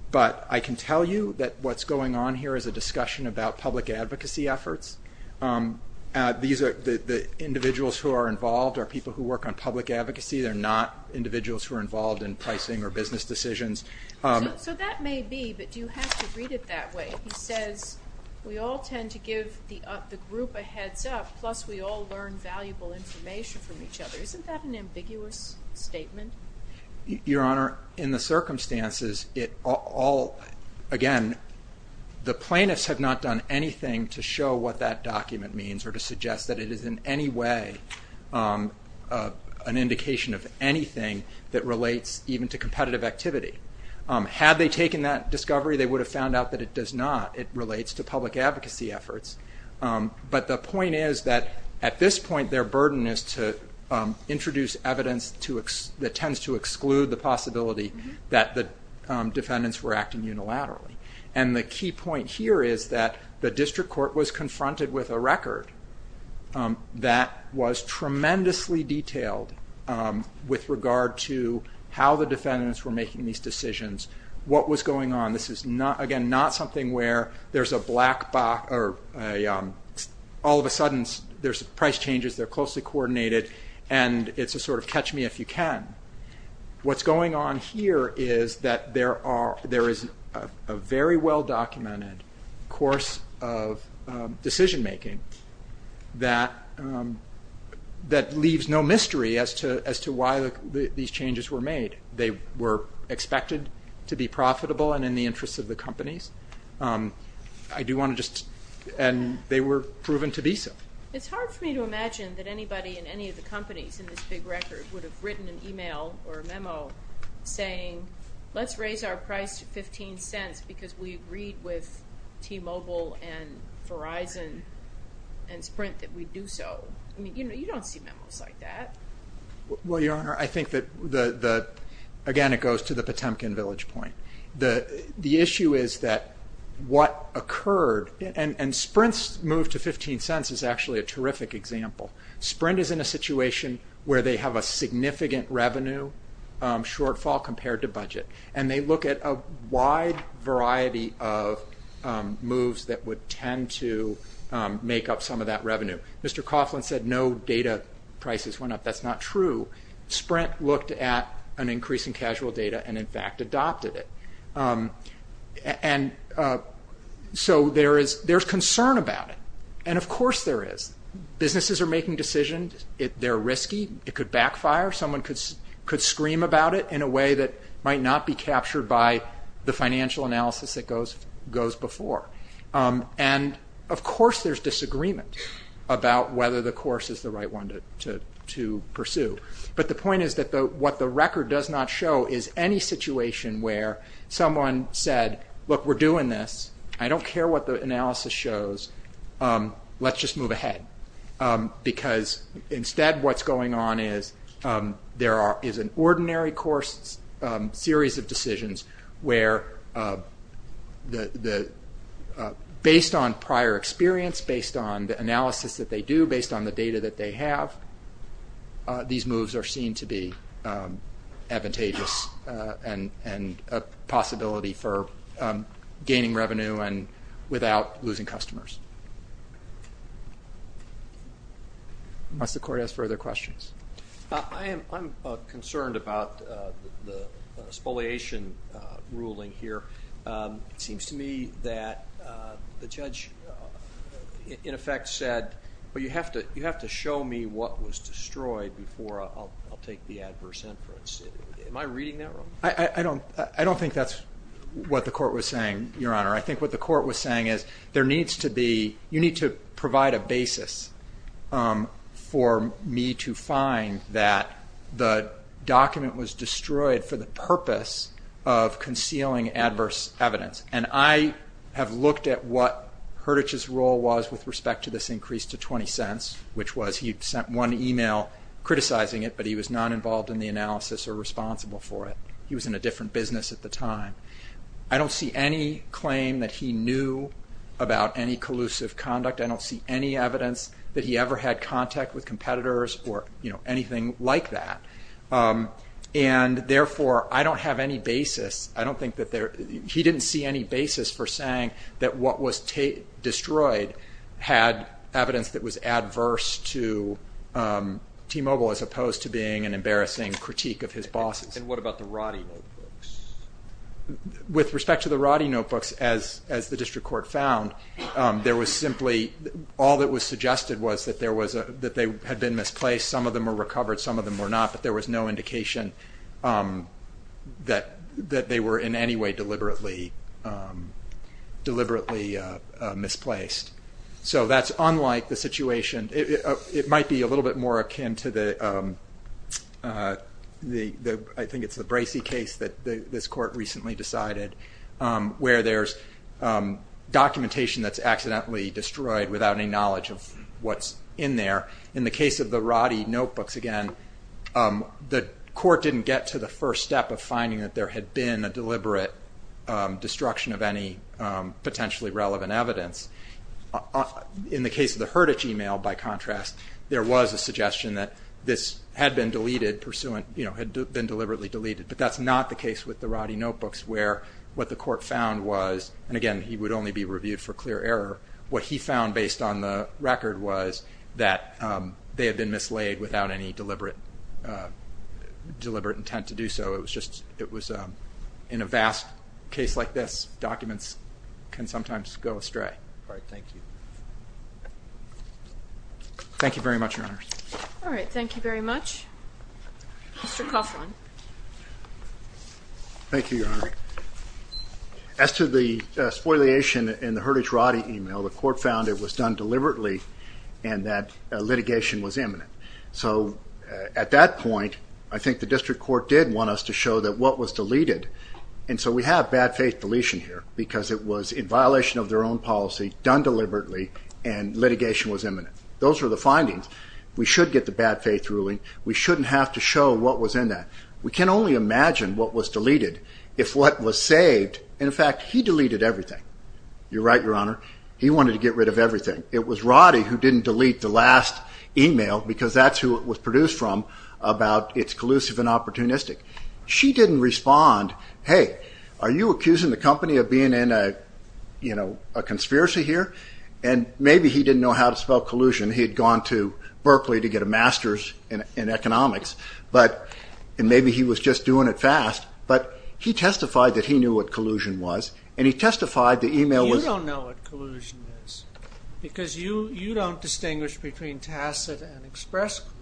But I can tell you that what's going on here is a discussion about public advocacy efforts. The individuals who are involved are people who work on public advocacy. They're not individuals who are involved in pricing or business decisions. So that may be, but do you have to read it that way? He says, we all tend to give the group a heads-up, plus we all learn valuable information from each other. Isn't that an ambiguous statement? Your Honor, in the circumstances, it all, again, the plaintiffs have not done anything to show what that document means or to suggest that it is in any way an indication of anything that relates even to competitive activity. Had they taken that discovery, they would have found out that it does not. It relates to public advocacy efforts. But the point is that at this point, their burden is to introduce evidence that tends to exclude the possibility that the defendants were acting unilaterally. And the key point here is that the district court was confronted with a record that was tremendously detailed with regard to how the defendants were making these decisions, what was going on. This is, again, not something where there's a black box or all of a sudden there's price changes, they're closely coordinated, and it's a sort of catch-me-if-you-can. What's going on here is that there is a very well-documented course of decision-making that leaves no mystery as to why these changes were made. They were expected to be profitable and in the interest of the companies, and they were proven to be so. It's hard for me to imagine that anybody in any of the companies in this big record would have written an email or a memo saying, let's raise our price to $0.15 because we agreed with T-Mobile and Verizon and Sprint that we'd do so. You don't see memos like that. Well, Your Honor, I think that, again, it goes to the Potemkin Village point. The issue is that what occurred, and Sprint's move to $0.15 is actually a terrific example. Sprint is in a situation where they have a significant revenue shortfall compared to budget, and they look at a wide variety of moves that would tend to make up some of that revenue. Mr. Coughlin said no data prices went up. That's not true. Sprint looked at an increase in casual data and, in fact, adopted it. And so there's concern about it, and of course there is. Businesses are making decisions. They're risky. It could backfire. Someone could scream about it in a way that might not be captured by the financial analysis that goes before. And, of course, there's disagreement about whether the course is the right one to pursue. But the point is that what the record does not show is any situation where someone said, look, we're doing this. I don't care what the analysis shows. Let's just move ahead. Because, instead, what's going on is there is an ordinary course series of decisions where, based on prior experience, based on the analysis that they do, based on the data that they have, these moves are seen to be advantageous and a possibility for gaining revenue without losing customers. Unless the Court has further questions. I'm concerned about the spoliation ruling here. It seems to me that the judge, in effect, said, well, you have to show me what was destroyed before I'll take the adverse inference. Am I reading that wrong? I don't think that's what the Court was saying, Your Honor. I think what the Court was saying is there needs to be you need to provide a basis for me to find that the document was destroyed for the purpose of concealing adverse evidence. And I have looked at what Hurditch's role was with respect to this increase to 20 cents, which was he sent one email criticizing it, but he was not involved in the analysis or responsible for it. He was in a different business at the time. I don't see any claim that he knew about any collusive conduct. I don't see any evidence that he ever had contact with competitors or anything like that. And therefore, I don't have any basis. I don't think that he didn't see any basis for saying that what was destroyed had evidence that was adverse to T-Mobile as opposed to being an embarrassing critique of his bosses. And what about the Roddy notebooks? With respect to the Roddy notebooks, as the District Court found, there was simply all that was suggested was that they had been misplaced. Some of them were recovered, some of them were not, but there was no indication that they were in any way deliberately misplaced. So that's unlike the situation. It might be a little bit more akin to the, I think it's the Bracey case that this Court recently decided, where there's documentation that's accidentally destroyed without any knowledge of what's in there. In the case of the Roddy notebooks, again, the Court didn't get to the first step of finding that there had been a deliberate destruction of any potentially relevant evidence. In the case of the Herditch email, by contrast, there was a suggestion that this had been deliberately deleted. But that's not the case with the Roddy notebooks, where what the Court found was, and again, he would only be reviewed for clear error, what he found based on the record was that they had been mislaid without any deliberate intent to do so. It was just, in a vast case like this, documents can sometimes go astray. All right, thank you. Thank you very much, Your Honors. All right, thank you very much. Mr. Coughlin. Thank you, Your Honor. As to the spoliation in the Herditch Roddy email, the Court found it was done deliberately and that litigation was imminent. So at that point, I think the District Court did want us to show that what was deleted, and so we have bad faith deletion here because it was in violation of their own policy, done deliberately, and litigation was imminent. Those are the findings. We should get the bad faith ruling. We shouldn't have to show what was in that. We can only imagine what was deleted if what was saved, and in fact, he deleted everything. You're right, Your Honor. He wanted to get rid of everything. It was Roddy who didn't delete the last email because that's who it was produced from, about it's collusive and opportunistic. She didn't respond, hey, are you accusing the company of being in a conspiracy here? And maybe he didn't know how to spell collusion. He had gone to Berkeley to get a master's in economics, and maybe he was just doing it fast, but he testified that he knew what collusion was, and he testified the email was ---- You don't know what collusion is because you don't distinguish between tacit and express collusion.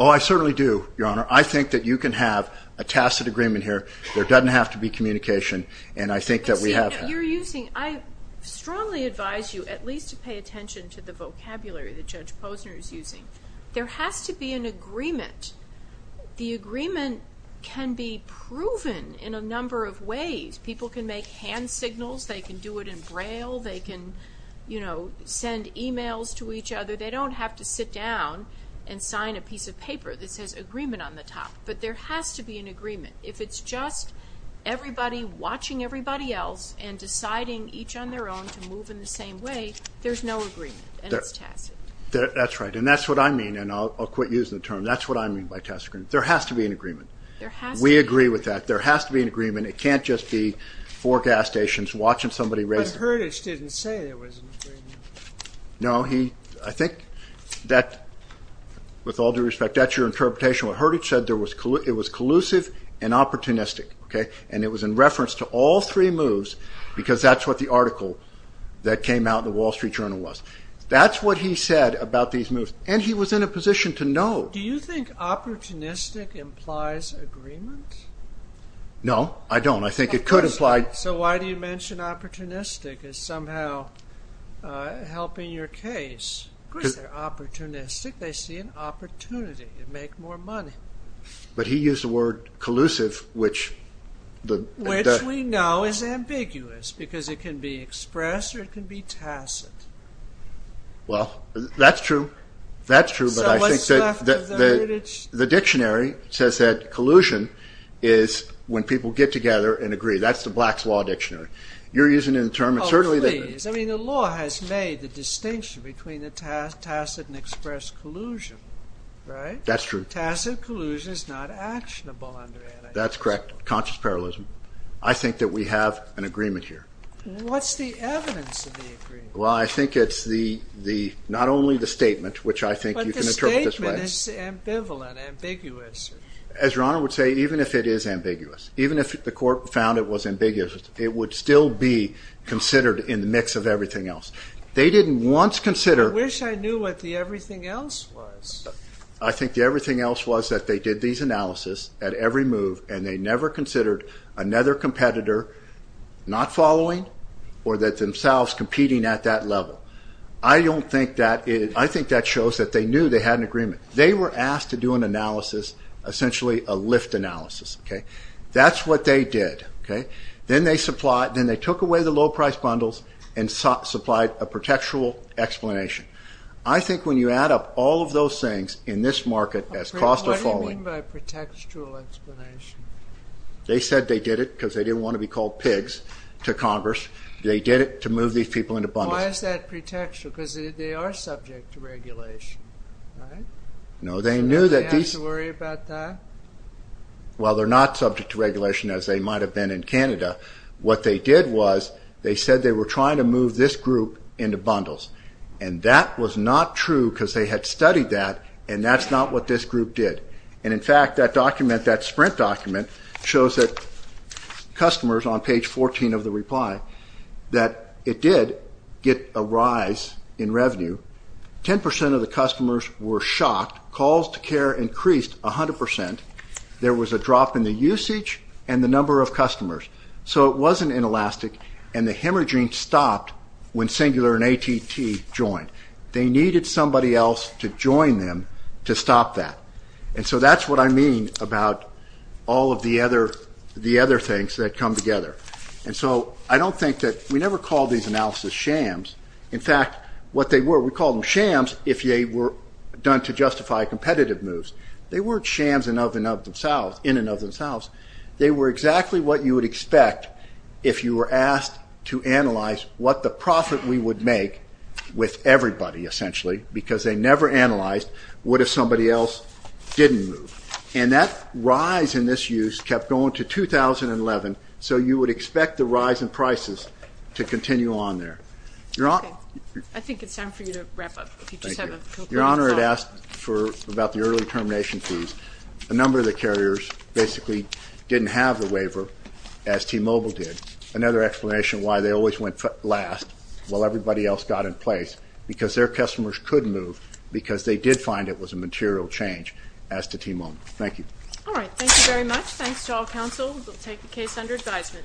Oh, I certainly do, Your Honor. I think that you can have a tacit agreement here. There doesn't have to be communication, and I think that we have that. I strongly advise you at least to pay attention to the vocabulary that Judge Posner is using. There has to be an agreement. The agreement can be proven in a number of ways. People can make hand signals. They can do it in Braille. They can send emails to each other. They don't have to sit down and sign a piece of paper that says agreement on the top, but there has to be an agreement. If it's just everybody watching everybody else and deciding each on their own to move in the same way, there's no agreement, and it's tacit. That's right, and that's what I mean, and I'll quit using the term. That's what I mean by tacit agreement. There has to be an agreement. There has to be an agreement. We agree with that. There has to be an agreement. It can't just be four gas stations watching somebody raise ---- But Hurdage didn't say there was an agreement. No, I think that, with all due respect, that's your interpretation. What Hurdage said, it was collusive and opportunistic, and it was in reference to all three moves because that's what the article that came out in the Wall Street Journal was. That's what he said about these moves, and he was in a position to know. Do you think opportunistic implies agreement? No, I don't. I think it could imply ---- So why do you mention opportunistic as somehow helping your case? Of course they're opportunistic. They see an opportunity to make more money. But he used the word collusive, which the ---- Which we know is ambiguous because it can be expressed or it can be tacit. Well, that's true. That's true, but I think that the dictionary says that collusion is when people get together and agree. That's the Black's Law Dictionary. You're using it in a term that certainly ---- I mean, the law has made the distinction between the tacit and express collusion, right? That's true. Tacit collusion is not actionable under anti-social. That's correct, conscious parallelism. I think that we have an agreement here. What's the evidence of the agreement? Well, I think it's not only the statement, which I think you can interpret this way. But the statement is ambivalent, ambiguous. As Your Honor would say, even if it is ambiguous, even if the court found it was ambiguous, it would still be considered in the mix of everything else. They didn't once consider ---- I wish I knew what the everything else was. I think the everything else was that they did these analysis at every move, and they never considered another competitor not following or themselves competing at that level. I don't think that ---- I think that shows that they knew they had an agreement. They were asked to do an analysis, essentially a lift analysis. That's what they did. Then they took away the low-priced bundles and supplied a pretextual explanation. I think when you add up all of those things in this market as cost of following ---- What do you mean by pretextual explanation? They said they did it because they didn't want to be called pigs to Congress. They did it to move these people into bundles. Why is that pretextual? Because they are subject to regulation, right? No, they knew that these ---- So they didn't have to worry about that? Well, they are not subject to regulation as they might have been in Canada. What they did was they said they were trying to move this group into bundles, and that was not true because they had studied that, and that's not what this group did. In fact, that document, that sprint document shows that customers on page 14 of the reply, that it did get a rise in revenue. Ten percent of the customers were shocked. Calls to care increased 100 percent. There was a drop in the usage and the number of customers. So it wasn't inelastic, and the hemorrhaging stopped when Singular and AT&T joined. They needed somebody else to join them to stop that. And so that's what I mean about all of the other things that come together. And so I don't think that ---- We never called these analysis shams. In fact, what they were, we called them shams if they were done to justify competitive moves. They weren't shams in and of themselves. They were exactly what you would expect if you were asked to analyze what the profit we would make with everybody, essentially, because they never analyzed what if somebody else didn't move. And that rise in this use kept going to 2011, so you would expect the rise in prices to continue on there. I think it's time for you to wrap up. Thank you. Your Honor, I'd ask about the early termination fees. A number of the carriers basically didn't have the waiver, as T-Mobile did. Another explanation why they always went last while everybody else got in place, because their customers could move because they did find it was a material change, as did T-Mobile. Thank you. All right, thank you very much. Thanks to all counsel. We'll take the case under advisement. Thank you.